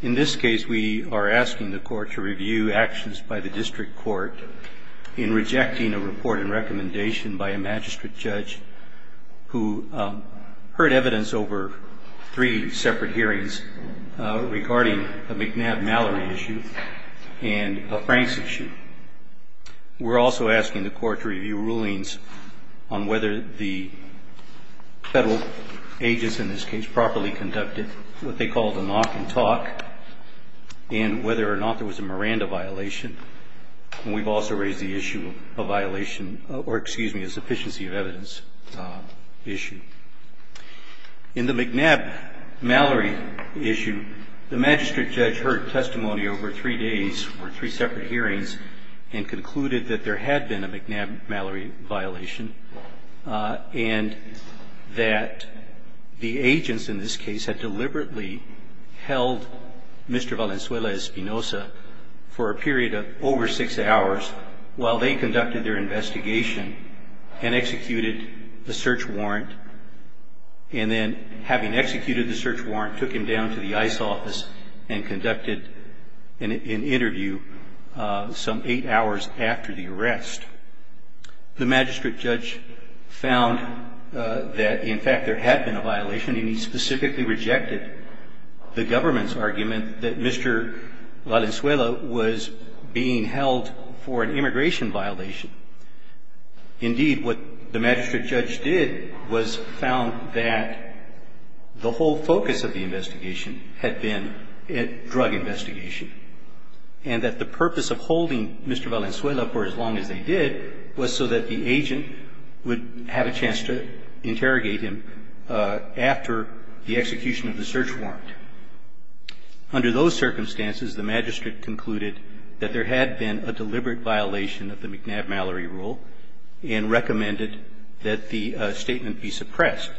In this case, we are asking the court to review actions by the district court in rejecting a report and recommendation by a magistrate judge who heard evidence over three separate hearings regarding a McNabb-Mallory issue and a Franks issue. We're also asking the court to review rulings on whether the federal agents in this case properly conducted what they call the knock and talk and whether or not there was a Miranda violation. And we've also raised the issue of a violation or, excuse me, a sufficiency of evidence issue. In the McNabb-Mallory issue, the magistrate judge heard testimony over three days for three separate hearings and concluded that there had been a McNabb-Mallory violation and that the agents in this case had deliberately held Mr. Valenzuela-Espinoza for a period of over six hours while they conducted their investigation and executed the search warrant. And then, having executed the search warrant, took him down to the ICE office and conducted an interview some eight hours after the arrest. The magistrate judge found that, in fact, there had been a violation and he specifically rejected the government's argument that Mr. Valenzuela was being held for an immigration violation. Indeed, what the magistrate judge did was found that the whole focus of the investigation had been drug investigation and that the purpose of holding Mr. Valenzuela for as long as they did was so that the agent would have a chance to interrogate him after the execution of the search warrant. Under those circumstances, the magistrate concluded that there had been a deliberate violation of the McNabb-Mallory rule and recommended that the statement be suppressed.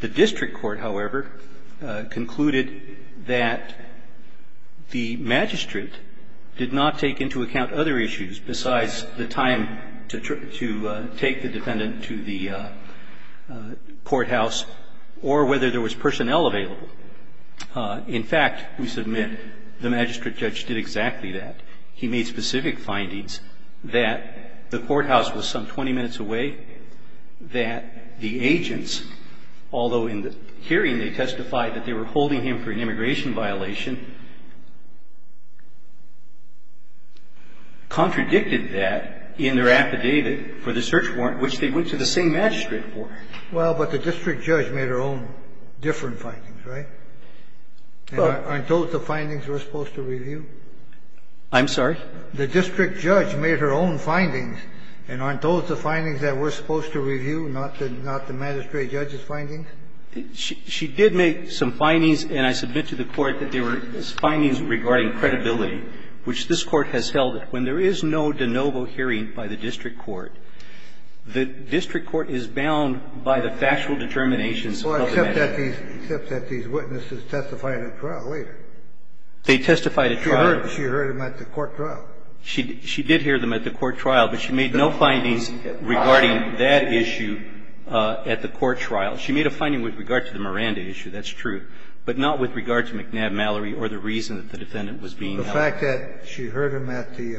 The district court, however, concluded that the magistrate did not take into account other issues besides the time to take the defendant to the courthouse or whether there was personnel available. In fact, we submit the magistrate judge did exactly that. He made specific findings that the courthouse was some 20 minutes away, that the agents, although in the hearing they testified that they were holding him for an immigration violation, contradicted that in their affidavit for the search warrant, which they went to the same magistrate for. Well, but the district judge made her own different findings, right? Aren't those the findings we're supposed to review? I'm sorry? The district judge made her own findings, and aren't those the findings that we're supposed to review, not the magistrate judge's findings? She did make some findings, and I submit to the Court that they were findings regarding credibility, which this Court has held that when there is no de novo hearing by the district court, the district court is bound by the factual determinations of the magistrate. Well, except that these witnesses testified at trial later. They testified at trial. She heard them at the court trial. She did hear them at the court trial, but she made no findings regarding that issue at the court trial. She made a finding with regard to the Miranda issue, that's true, but not with regard to McNabb Mallory or the reason that the defendant was being held. The fact that she heard them at the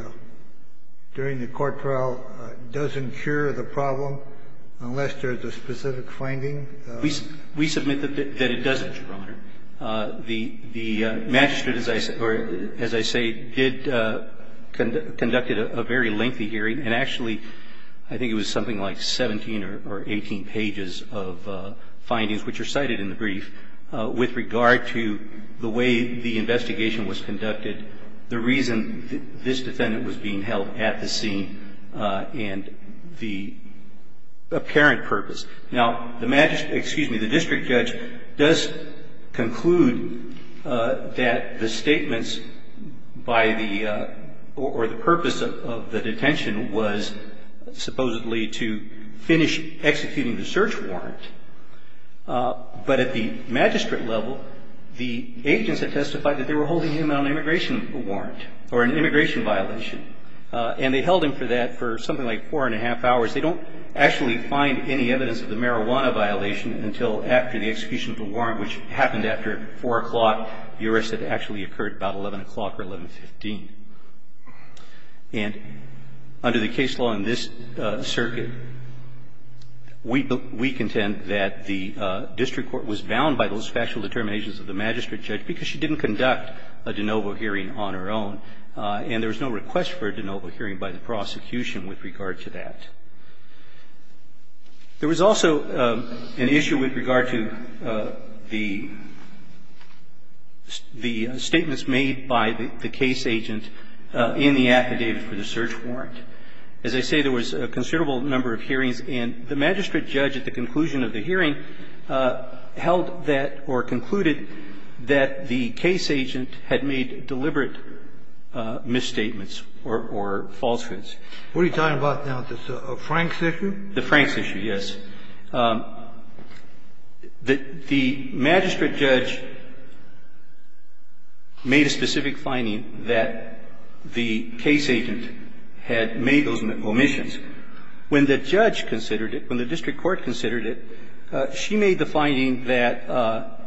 – during the court trial doesn't cure the problem, unless there's a specific finding? We submit that it doesn't, Your Honor. The magistrate, as I say, did conduct a very lengthy hearing, and actually I think it was something like 17 or 18 pages of findings, which are cited in the brief, with regard to the way the investigation was conducted, the reason this defendant was being held at the scene, and the apparent purpose. Now, the magistrate – excuse me, the district judge does conclude that the statements by the – or the purpose of the detention was supposedly to finish executing the search warrant, but at the magistrate level, the agents had testified that they were holding him on an immigration warrant or an immigration violation, and they held him for that for something like four and a half hours. They don't actually find any evidence of the marijuana violation until after the execution of the warrant, which happened after 4 o'clock. The arrest had actually occurred about 11 o'clock or 11.15. And under the case law in this circuit, we contend that the district court was bound by those factual determinations of the magistrate judge, because she didn't conduct a de novo hearing on her own, and there was no request for a de novo hearing by the prosecution with regard to that. There was also an issue with regard to the statements made by the case agent in the affidavit for the search warrant. As I say, there was a considerable number of hearings, and the magistrate judge at the conclusion of the hearing held that or concluded that the case agent had made deliberate misstatements or falsehoods. What are you talking about now? The Franks issue? The Franks issue, yes. The magistrate judge made a specific finding that the case agent had made those omissions. When the judge considered it, when the district court considered it, she made the finding that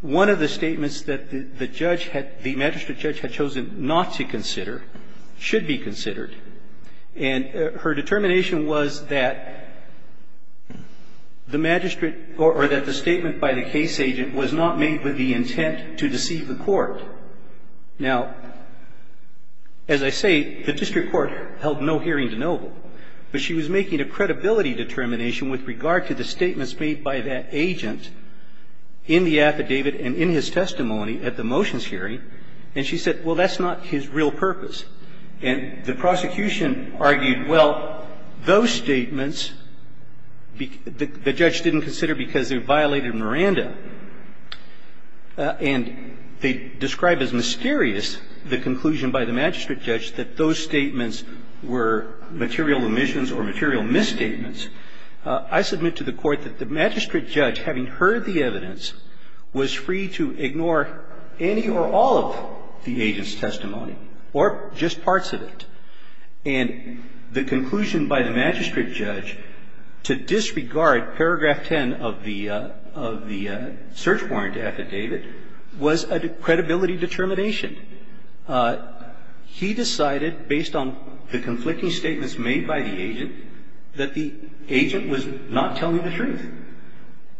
one of the statements that the judge had the magistrate judge had chosen not to consider should be considered. And her determination was that the magistrate or that the statement by the case agent was not made with the intent to deceive the court. Now, as I say, the district court held no hearing de novo, but she was making a credibility determination with regard to the statements made by that agent in the affidavit and in his testimony at the motions hearing. And she said, well, that's not his real purpose. And the prosecution argued, well, those statements, the judge didn't consider because they violated Miranda. And they described as mysterious the conclusion by the magistrate judge that those statements were material omissions or material misstatements. I submit to the court that the magistrate judge, having heard the evidence, was free to ignore any or all of the agent's testimony or just parts of it. And the conclusion by the magistrate judge to disregard paragraph 10 of the search warrant affidavit was a credibility determination. He decided, based on the conflicting statements made by the agent, that the agent was not telling the truth.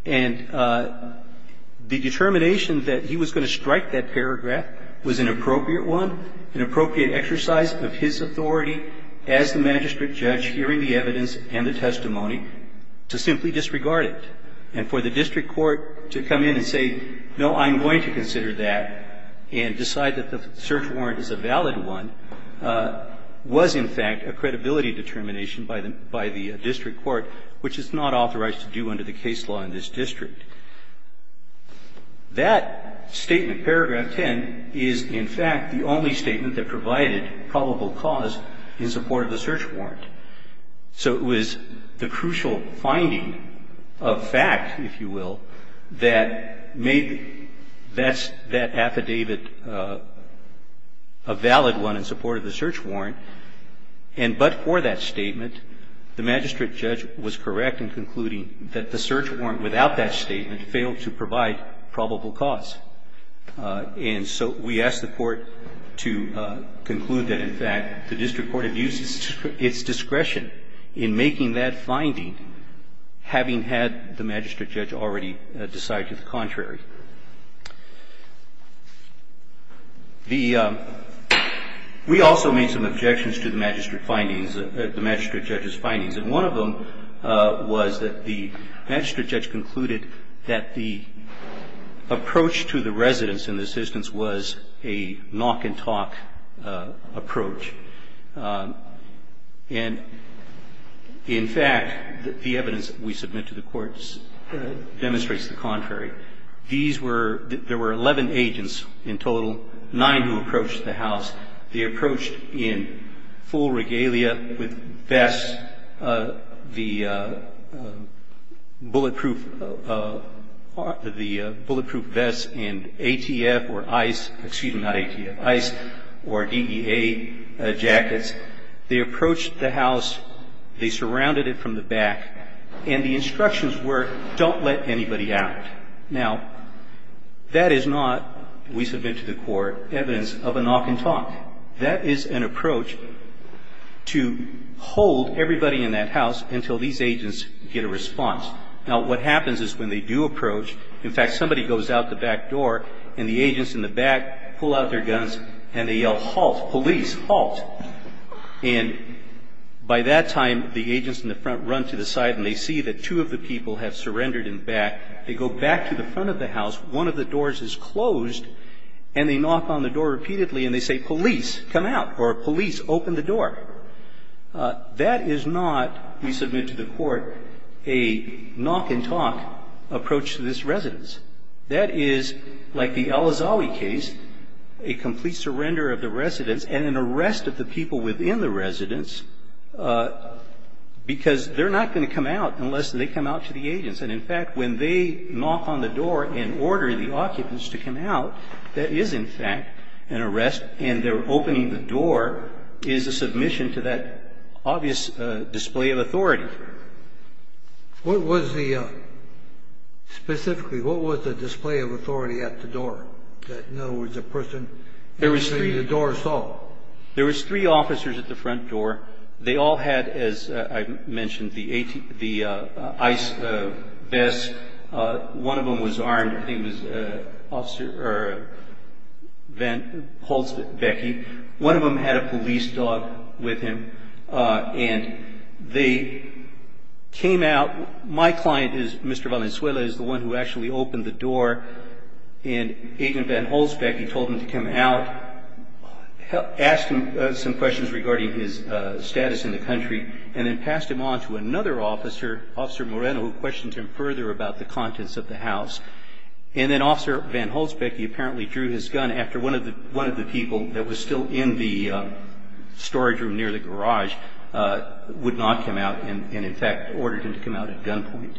And the determination that he was going to strike that paragraph was an appropriate one, an appropriate exercise of his authority as the magistrate judge hearing the evidence and the testimony to simply disregard it. And for the district court to come in and say, no, I'm going to consider that and decide that the search warrant is a valid one was, in fact, a credibility determination by the district court, which is not authorized to do under the case law in this district. That statement, paragraph 10, is, in fact, the only statement that provided probable cause in support of the search warrant. So it was the crucial finding of fact, if you will, that made that affidavit a valid one in support of the search warrant. And but for that statement, the magistrate judge was correct in concluding that the search warrant, without that statement, failed to provide probable cause. And so we asked the court to conclude that, in fact, the district court had used its discretion in making that finding, having had the magistrate judge already decide to the contrary. The we also made some objections to the magistrate findings, the magistrate judge's findings. And one of them was that the magistrate judge concluded that the approach to the residents in the assistance was a knock-and-talk approach. And, in fact, the evidence that we submit to the court demonstrates the contrary. These were, there were 11 agents in total, nine who approached the house. They approached in full regalia with vests, the bulletproof, the bulletproof vests and ATF or ICE, excuse me, not ATF, ICE or DEA jackets. They approached the house, they surrounded it from the back, and the instructions were don't let anybody out. Now, that is not, we submit to the court, evidence of a knock-and-talk. That is an approach to hold everybody in that house until these agents get a response. Now, what happens is when they do approach, in fact, somebody goes out the back door and the agents in the back pull out their guns and they yell, halt, police, halt. And by that time, the agents in the front run to the side and they see that two of the people have surrendered in the back. They go back to the front of the house. One of the doors is closed and they knock on the door repeatedly and they say, police, come out, or police, open the door. That is not, we submit to the court, a knock-and-talk approach to this residence. That is, like the Elazawi case, a complete surrender of the residence and an arrest of the people within the residence because they're not going to come out unless they come out to the agents. And, in fact, when they knock on the door and order the occupants to come out, that is, in fact, an arrest and they're opening the door is a submission to that obvious display of authority. What was the, specifically, what was the display of authority at the door? In other words, the person entering the door saw? There was three officers at the front door. They all had, as I mentioned, the ICE vests. One of them was armed. I think it was Officer Van Holtzbecki. One of them had a police dog with him and they came out. My client, Mr. Valenzuela, is the one who actually opened the door and Agent Van Holtzbecki told him to come out, asked him some questions regarding his status in the country, and then passed him on to another officer, Officer Moreno, who questioned him further about the contents of the house. And then Officer Van Holtzbecki apparently drew his gun after one of the people that was still in the storage room near the garage would not come out and, in fact, ordered him to come out at gunpoint.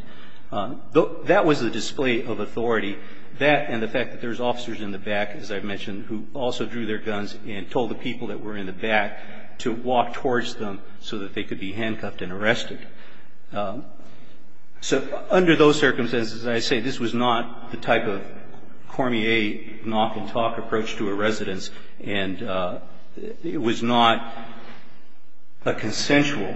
That was the display of authority. That and the fact that there was officers in the back, as I mentioned, who also drew their guns and told the people that were in the back to walk towards them so that they could be handcuffed and arrested. So under those circumstances, I say this was not the type of Cormier knock-and-talk approach to a residence and it was not a consensual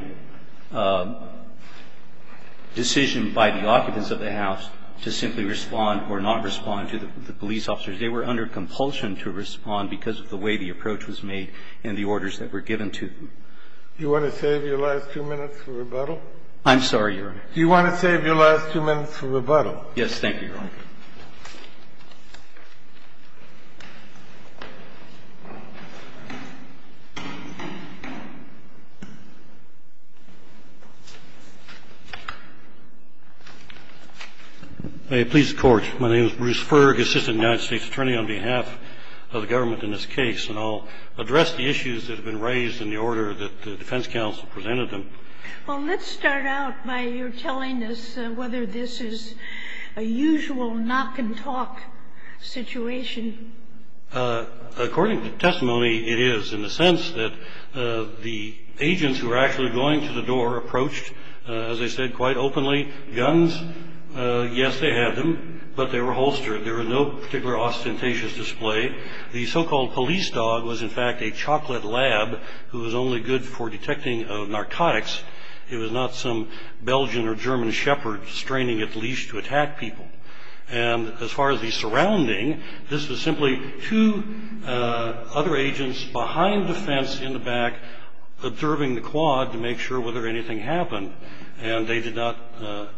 decision by the occupants of the The reason I'm saying that is because the officers were not responding to the police officers. They were not responding to the police officers. They were under compulsion to respond because of the way the approach was made and the orders that were given to them. You want to save your last two minutes for rebuttal? I'm sorry, Your Honor. Do you want to save your last two minutes for rebuttal? Yes. Thank you, Your Honor. May it please the Court. My name is Bruce Ferg, assistant United States attorney on behalf of the government in this case, and I'll address the issues that have been raised in the order that the defense counsel presented them. Well, let's start out by your telling us whether this is a usual knock-and-talk situation. According to testimony, it is in the sense that the agents who were actually going to the door approached, as I said quite openly, guns. Yes, they had them, but they were holstered. There was no particular ostentatious display. The so-called police dog was, in fact, a chocolate lab who was only good for It was not some Belgian or German shepherd straining its leash to attack people. And as far as the surrounding, this was simply two other agents behind the fence in the back observing the quad to make sure whether anything happened. And they did not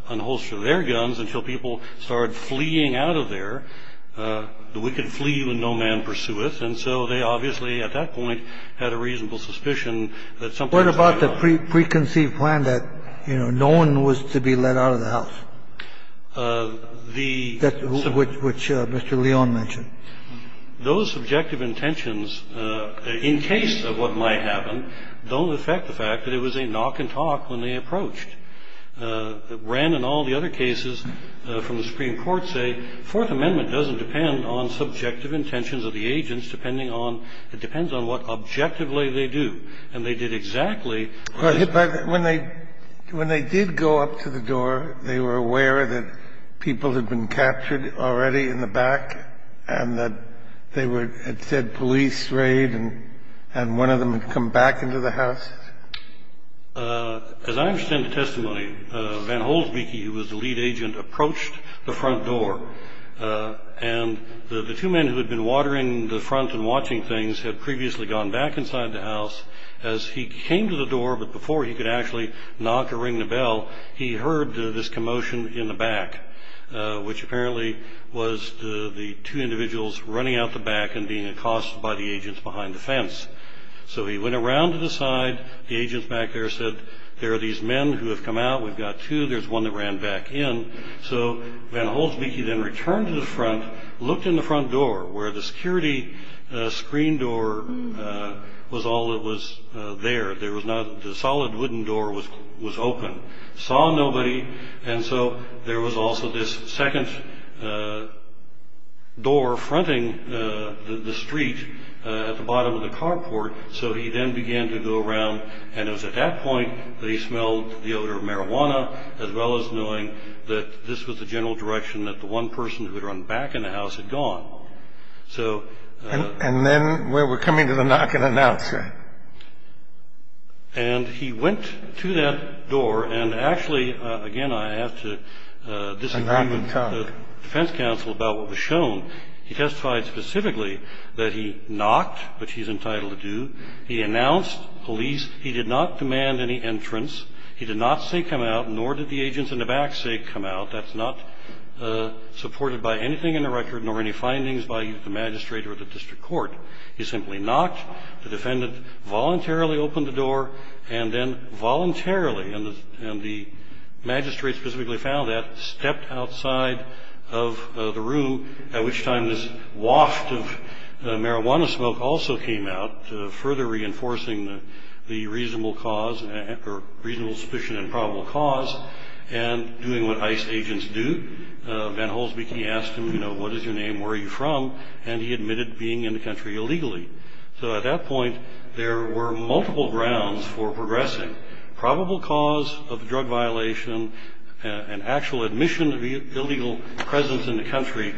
unholster their guns until people started fleeing out of there. The wicked flee when no man pursueth. And so they obviously, at that point, had a reasonable suspicion that something And they did not unholster their guns until people started fleeing out of there. Now, what about the preconceived plan that, you know, no one was to be let out of the house, which Mr. Leon mentioned? Those subjective intentions, in case of what might happen, don't affect the fact that it was a knock-and-talk when they approached. Wren and all the other cases from the Supreme Court say Fourth Amendment doesn't depend on subjective intentions of the agents. It depends on what objectively they do. And they did exactly what they said. But when they did go up to the door, they were aware that people had been captured already in the back and that they had said police raid and one of them had come back into the house? As I understand the testimony, Van Holtzbecki, who was the lead agent, approached the front door, and the two men who had been watering the front and watching things had previously gone back inside the house. As he came to the door, but before he could actually knock or ring the bell, he heard this commotion in the back, which apparently was the two individuals running out the back So he went around to the side. The agents back there said, there are these men who have come out. We've got two. There's one that ran back in. So Van Holtzbecki then returned to the front, looked in the front door, where the security screen door was all that was there. The solid wooden door was open. Saw nobody. And so there was also this second door fronting the street at the bottom of the carport. So he then began to go around, and it was at that point that he smelled the odor of marijuana, as well as knowing that this was the general direction that the one person who had run back in the house had gone. And then we were coming to the knock and announce. And he went to that door. And actually, again, I have to disagree with the defense counsel about what was shown. He testified specifically that he knocked, which he's entitled to do. He announced police. He did not demand any entrance. He did not say come out, nor did the agents in the back say come out. That's not supported by anything in the record, nor any findings by the magistrate or the district court. He simply knocked. The defendant voluntarily opened the door, and then voluntarily, and the magistrate specifically found that, stepped outside of the room, at which time this waft of marijuana smoke also came out, further reinforcing the reasonable suspicion and probable cause, and doing what ICE agents do. Van Holsbeek, he asked him, you know, what is your name, where are you from? And he admitted being in the country illegally. So at that point, there were multiple grounds for progressing. Probable cause of drug violation, an actual admission of illegal presence in the country,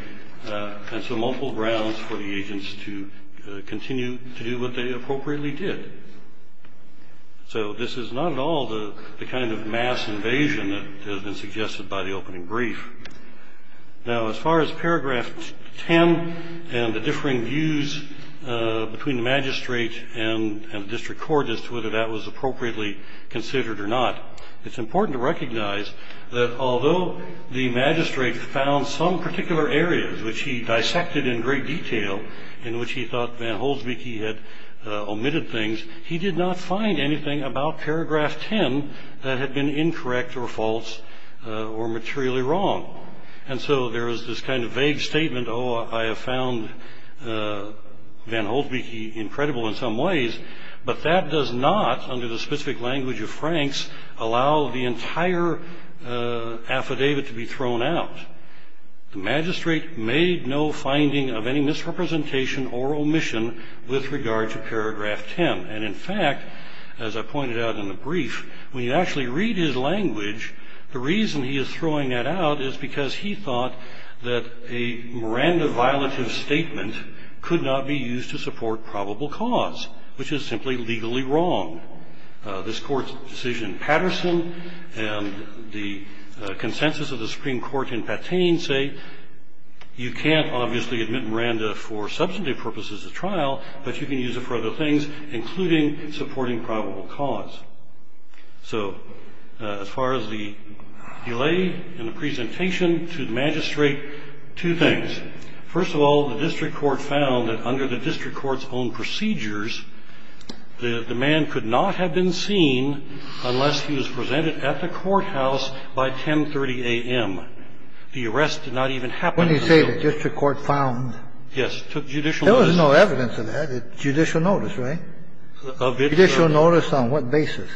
and so multiple grounds for the agents to continue to do what they appropriately did. So this is not at all the kind of mass invasion that has been suggested by the opening brief. Now, as far as paragraph 10 and the differing views between the magistrate and the district court as to whether that was appropriately considered or not, it's important to recognize that although the magistrate found some particular areas which he dissected in great detail, in which he thought Van Holsbeek, he had omitted things, he did not find anything about paragraph 10 that had been incorrect or false or materially wrong. And so there is this kind of vague statement, oh, I have found Van Holsbeek incredible in some ways, but that does not, under the specific language of Franks, allow the entire affidavit to be thrown out. The magistrate made no finding of any misrepresentation or omission with regard to paragraph 10. And in fact, as I pointed out in the brief, when you actually read his language, the reason he is throwing that out is because he thought that a Miranda violative statement could not be used to support probable cause, which is simply legally wrong. This court's decision in Patterson and the consensus of the Supreme Court in Patane say you can't obviously admit Miranda for substantive purposes of trial, but you can use it for other things, including supporting probable cause. So as far as the delay in the presentation to the magistrate, two things. First of all, the district court found that under the district court's own procedures, the man could not have been seen unless he was presented at the courthouse by 1030 a.m. The arrest did not even happen. And then when you say the district court found. Yes. Judicial notice. There was no evidence of that. Judicial notice, right? Of it, but. Judicial notice on what basis.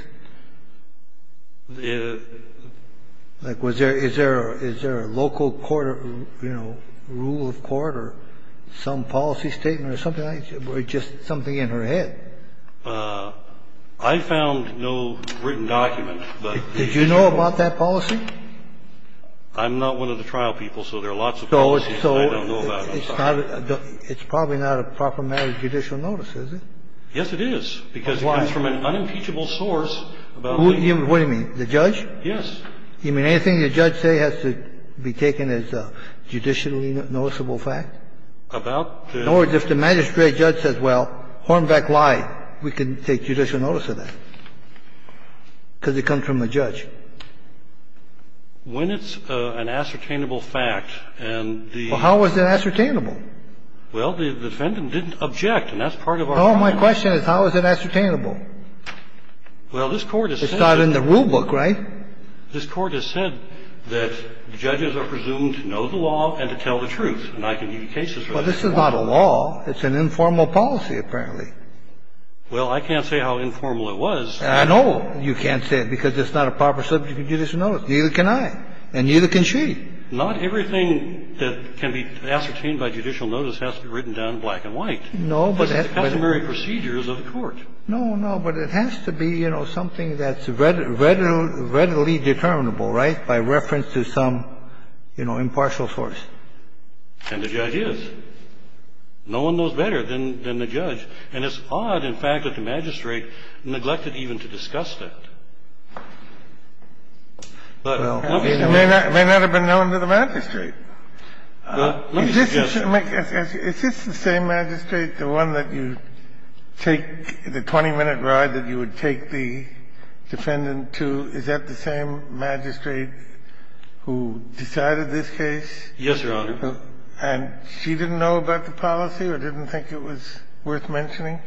Like, is there a local court, you know, rule of court or some policy statement or something like that or just something in her head? I found no written document, but the. Did you know about that policy? I'm not one of the trial people, so there are lots of. So it's probably not a proper matter of judicial notices. Yes, it is. Because it comes from an unimpeachable source. What do you mean? The judge? Yes. You mean anything the judge say has to be taken as a judicially noticeable fact? About. In other words, if the magistrate judge says, well, Hornbeck lied, we can take judicial notice of that. And in other words, the judge is not going to take it as a judicially noticeable fact. Because it comes from the judge. When it's an ascertainable fact and the. How is it ascertainable? Well, the defendant didn't object, and that's part of our. My question is, how is it ascertainable? Well, this Court. Is not in the rule book, right? This Court has said that judges are presumed to know the law and to tell the truth. And I can give you cases. Well, this is not a law. It's an informal policy, apparently. Well, I can't say how informal it was. I know you can't say it because it's not a proper subject of judicial notice. Neither can I. And neither can she. Not everything that can be ascertained by judicial notice has to be written down black and white. No, but. The customary procedures of the court. No, no. But it has to be, you know, something that's readily determinable, right? By reference to some, you know, impartial source. And the judge is. No one knows better than the judge. And it's odd, in fact, that the magistrate neglected even to discuss that. Well, it may not have been known to the magistrate. Is this the same magistrate, the one that you take the 20-minute ride that you would take the defendant to, is that the same magistrate who decided this case? Yes, Your Honor. And she didn't know about the policy or didn't think it was worth mentioning?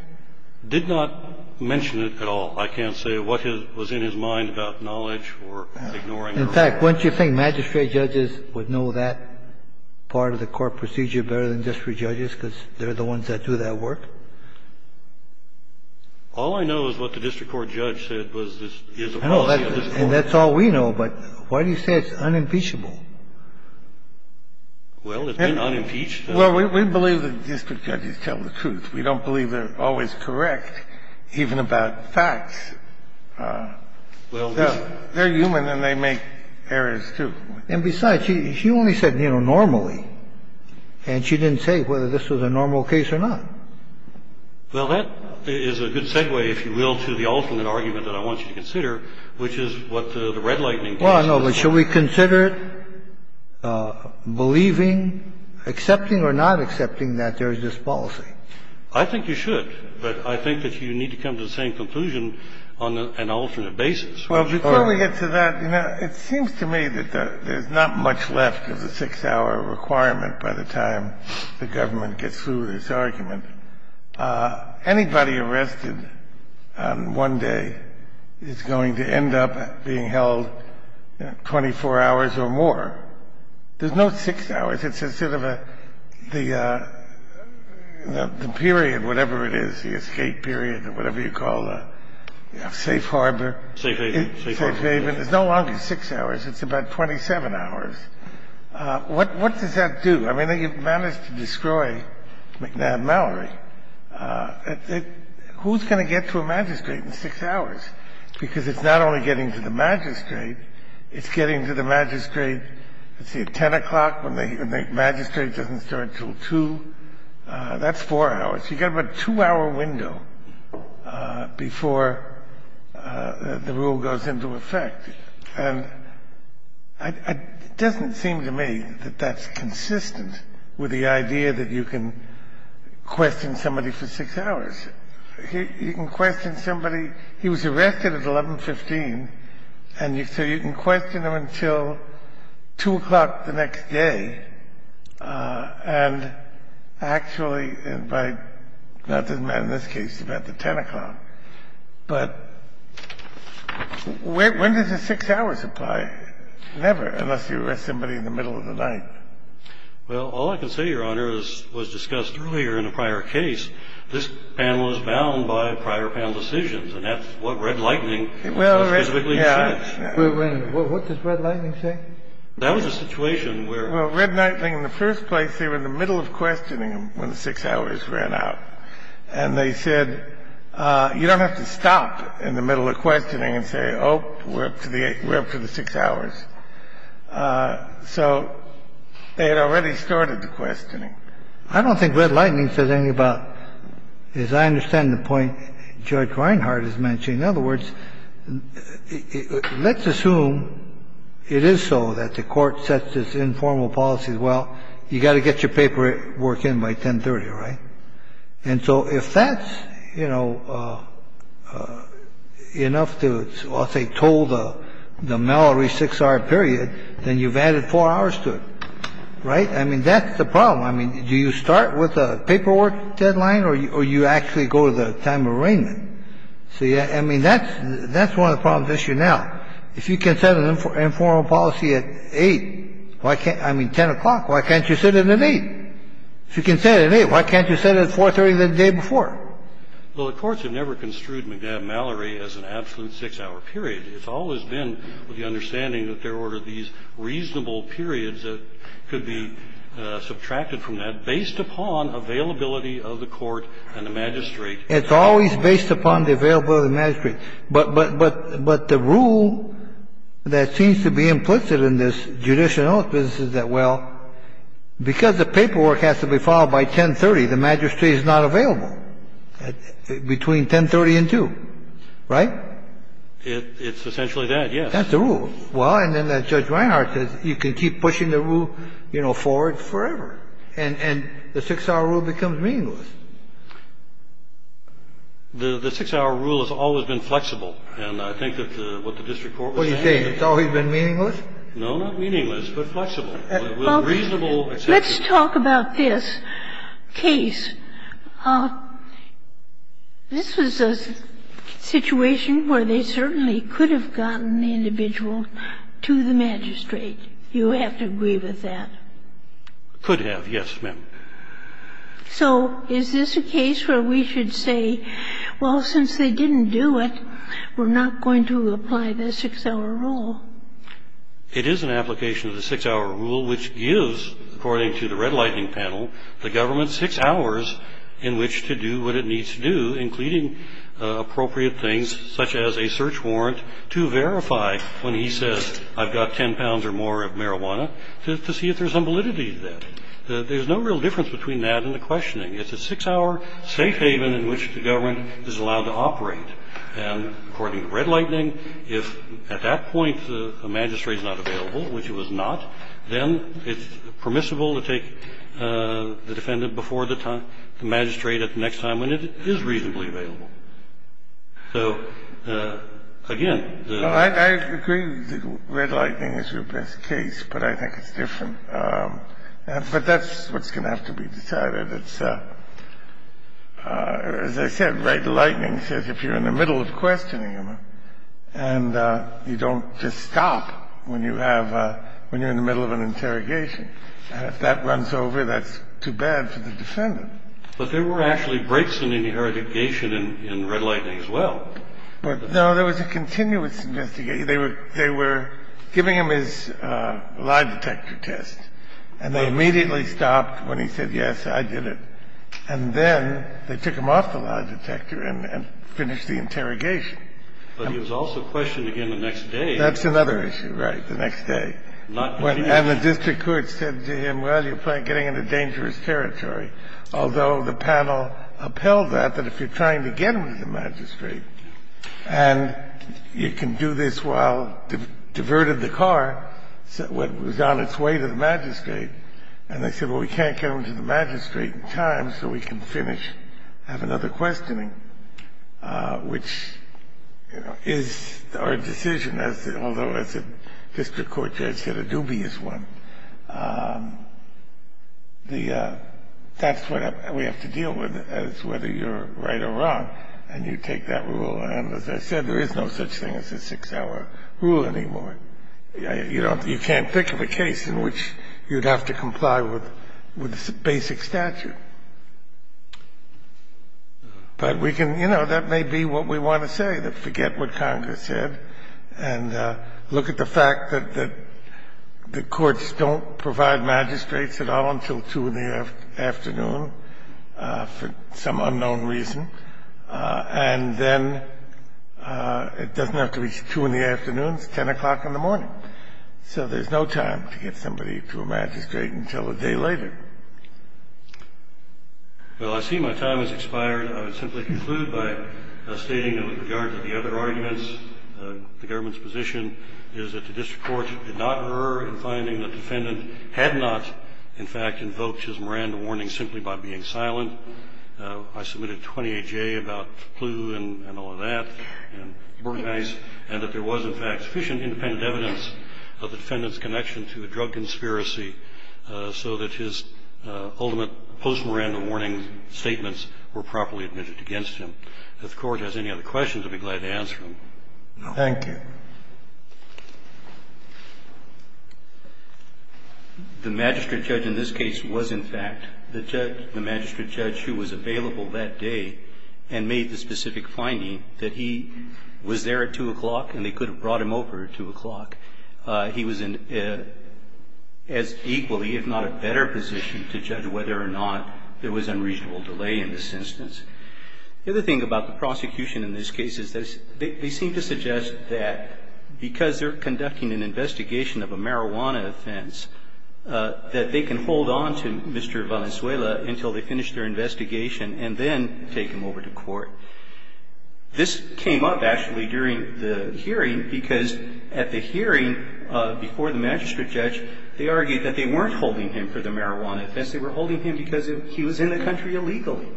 Did not mention it at all. I can't say what was in his mind about knowledge or ignoring. In fact, wouldn't you think magistrate judges would know that part of the court procedure better than district judges because they're the ones that do that work? All I know is what the district court judge said was this is the policy of this court. And that's all we know. But why do you say it's unimpeachable? Well, it's been unimpeached. Well, we believe that district judges tell the truth. We don't believe they're always correct, even about facts. They're human and they make errors, too. And besides, she only said, you know, normally, and she didn't say whether this was a normal case or not. Well, that is a good segue, if you will, to the alternate argument that I want you to consider, which is what the red lightning case is. Well, no, but should we consider believing, accepting or not accepting that there is this policy? I think you should. But I think that you need to come to the same conclusion on an alternate basis. Well, before we get to that, you know, it seems to me that there's not much left of the 6-hour requirement by the time the government gets through this argument. Anybody arrested on one day is going to end up being held 24 hours or more. There's no 6 hours. It's a sort of a the period, whatever it is, the escape period or whatever you call a safe harbor. Safe haven. Safe haven. It's no longer 6 hours. It's about 27 hours. What does that do? I mean, they managed to destroy McNabb Mallory. Who's going to get to a magistrate in 6 hours? Because it's not only getting to the magistrate, it's getting to the magistrate, let's see, at 10 o'clock when the magistrate doesn't start until 2. That's 4 hours. You've got about a 2-hour window before the rule goes into effect. And it doesn't seem to me that that's consistent with the idea that you can question somebody for 6 hours. You can question somebody. He was arrested at 1115, and so you can question him until 2 o'clock the next day, and actually by not the man in this case, about the 10 o'clock. But when does the 6 hours apply? Never, unless you arrest somebody in the middle of the night. Well, all I can say, Your Honor, as was discussed earlier in a prior case, this panel is bound by prior panel decisions, and that's what Red Lightning specifically says. Well, what does Red Lightning say? That was a situation where... Well, Red Lightning, in the first place, they were in the middle of questioning him when the 6 hours ran out. And they said, you don't have to stop in the middle of questioning and say, oh, we're up to the 6 hours. So they had already started the questioning. I don't think Red Lightning says anything about, as I understand the point Judge Reinhardt is mentioning. In other words, let's assume it is so that the court sets its informal policies. Well, you've got to get your paperwork in by 1030, right? And so if that's, you know, enough to, I'll say, toll the Mallory 6-hour period, then you've added 4 hours to it. Right? I mean, that's the problem. I mean, do you start with a paperwork deadline or you actually go to the time of arraignment? So, yeah, I mean, that's one of the problems this year now. If you can set an informal policy at 8, I mean, 10 o'clock, why can't you set it at 8? If you can set it at 8, why can't you set it at 430 the day before? Well, the courts have never construed McNabb-Mallory as an absolute 6-hour period. It's always been with the understanding that there were these reasonable periods that could be subtracted from that based upon availability of the court and the magistrate. It's always based upon the availability of the magistrate. But the rule that seems to be implicit in this judicial notice business is that, well, because the paperwork has to be filed by 1030, the magistrate is not available between 1030 and 2. Right? It's essentially that, yes. That's the rule. Well, and then Judge Reinhardt says you can keep pushing the rule, you know, forward forever. And the 6-hour rule becomes meaningless. The 6-hour rule has always been flexible. And I think that what the district court was saying is that... What are you saying? It's always been meaningless? No, not meaningless, but flexible. Well, let's talk about this case. This was a situation where they certainly could have gotten the individual to the magistrate. You have to agree with that. Could have, yes, ma'am. So is this a case where we should say, well, since they didn't do it, we're not going to apply the 6-hour rule? It is an application of the 6-hour rule, which gives, according to the Red Lightning panel, the government 6 hours in which to do what it needs to do, including appropriate things such as a search warrant to verify when he says, I've got 10 pounds or more of marijuana, to see if there's some validity to that. There's no real difference between that and the questioning. It's a 6-hour safe haven in which the government is allowed to operate. And according to Red Lightning, if at that point the magistrate is not available, which he was not, then it's permissible to take the defendant before the magistrate at the next time when it is reasonably available. So, again, the ---- I agree that Red Lightning is your best case, but I think it's different. But that's what's going to have to be decided. It's, as I said, Red Lightning says if you're in the middle of questioning him, and you don't just stop when you have a ---- when you're in the middle of an interrogation. If that runs over, that's too bad for the defendant. But there were actually breaks in interrogation in Red Lightning as well. No, there was a continuous investigation. They were giving him his lie detector test, and they immediately stopped when he said, yes, I did it. And then they took him off the lie detector and finished the interrogation. But he was also questioned again the next day. That's another issue, right, the next day. Not continuous. And the district court said to him, well, you're getting into dangerous territory, although the panel upheld that, that if you're trying to get him to the magistrate and you can do this while diverted the car when it was on its way to the magistrate, and they said, well, we can't get him to the magistrate in time so we can finish, have another questioning, which, you know, is our decision, although, as the district court judge said, a dubious one. The ---- that's what we have to deal with, is whether you're right or wrong, and you take that rule. And, as I said, there is no such thing as a six-hour rule anymore. You can't think of a case in which you'd have to comply with basic statute. But we can, you know, that may be what we want to say, that forget what Congress said and look at the fact that the courts don't provide magistrates at all until 2 in the afternoon for some unknown reason, and then it doesn't have to be 2 in the morning. So there's no time to get somebody to a magistrate until a day later. Well, I see my time has expired. I would simply conclude by stating that with regard to the other arguments, the government's position is that the district court did not err in finding that the defendant had not, in fact, invoked his Miranda warning simply by being silent. I submitted 28J about the clue and all of that, and that there was, in fact, sufficient independent evidence of the defendant's connection to a drug conspiracy so that his ultimate post-Miranda warning statements were properly admitted against him. If the Court has any other questions, I'd be glad to answer them. Thank you. The magistrate judge in this case was, in fact, the judge, the magistrate judge who was available that day and made the specific finding that he was there at 2 o'clock and they could have brought him over at 2 o'clock. He was in as equally if not a better position to judge whether or not there was unreasonable delay in this instance. The other thing about the prosecution in this case is they seem to suggest that because they're conducting an investigation of a marijuana offense, that they can hold on to Mr. Valenzuela until they finish their investigation and then take him over to court. This came up, actually, during the hearing because at the hearing before the magistrate judge, they argued that they weren't holding him for the marijuana offense. They were holding him because he was in the country illegally,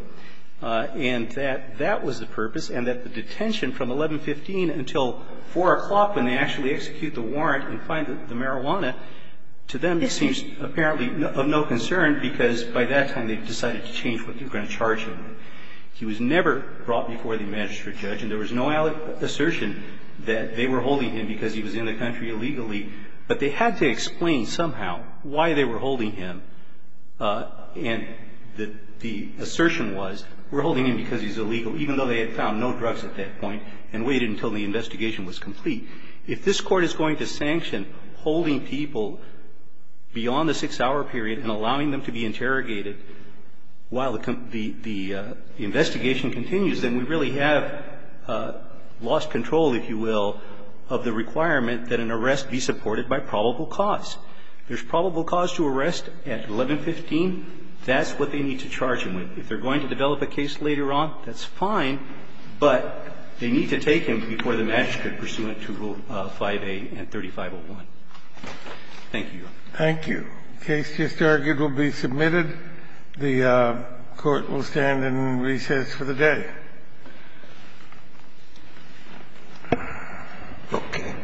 and that that was the purpose and that the detention from 11.15 until 4 o'clock when they actually execute the warrant and find the marijuana, to them, it seems apparently of no concern because by that time they've decided to change what they were going to charge him with. He was never brought before the magistrate judge, and there was no assertion that they were holding him because he was in the country illegally, but they had to explain somehow why they were holding him. And the assertion was, we're holding him because he's illegal, even though they had found no drugs at that point and waited until the investigation was complete. If this court is going to sanction holding people beyond the six-hour period and allowing them to be interrogated while the investigation continues, then we really have lost control, if you will, of the requirement that an arrest be supported by probable cause. There's probable cause to arrest at 11.15. That's what they need to charge him with. If they're going to develop a case later on, that's fine, but they need to take him before the magistrate pursuant to Rule 5A and 3501. Thank you, Your Honor. Thank you. The case just argued will be submitted. The court will stand in recess for the day. Okay. All rise.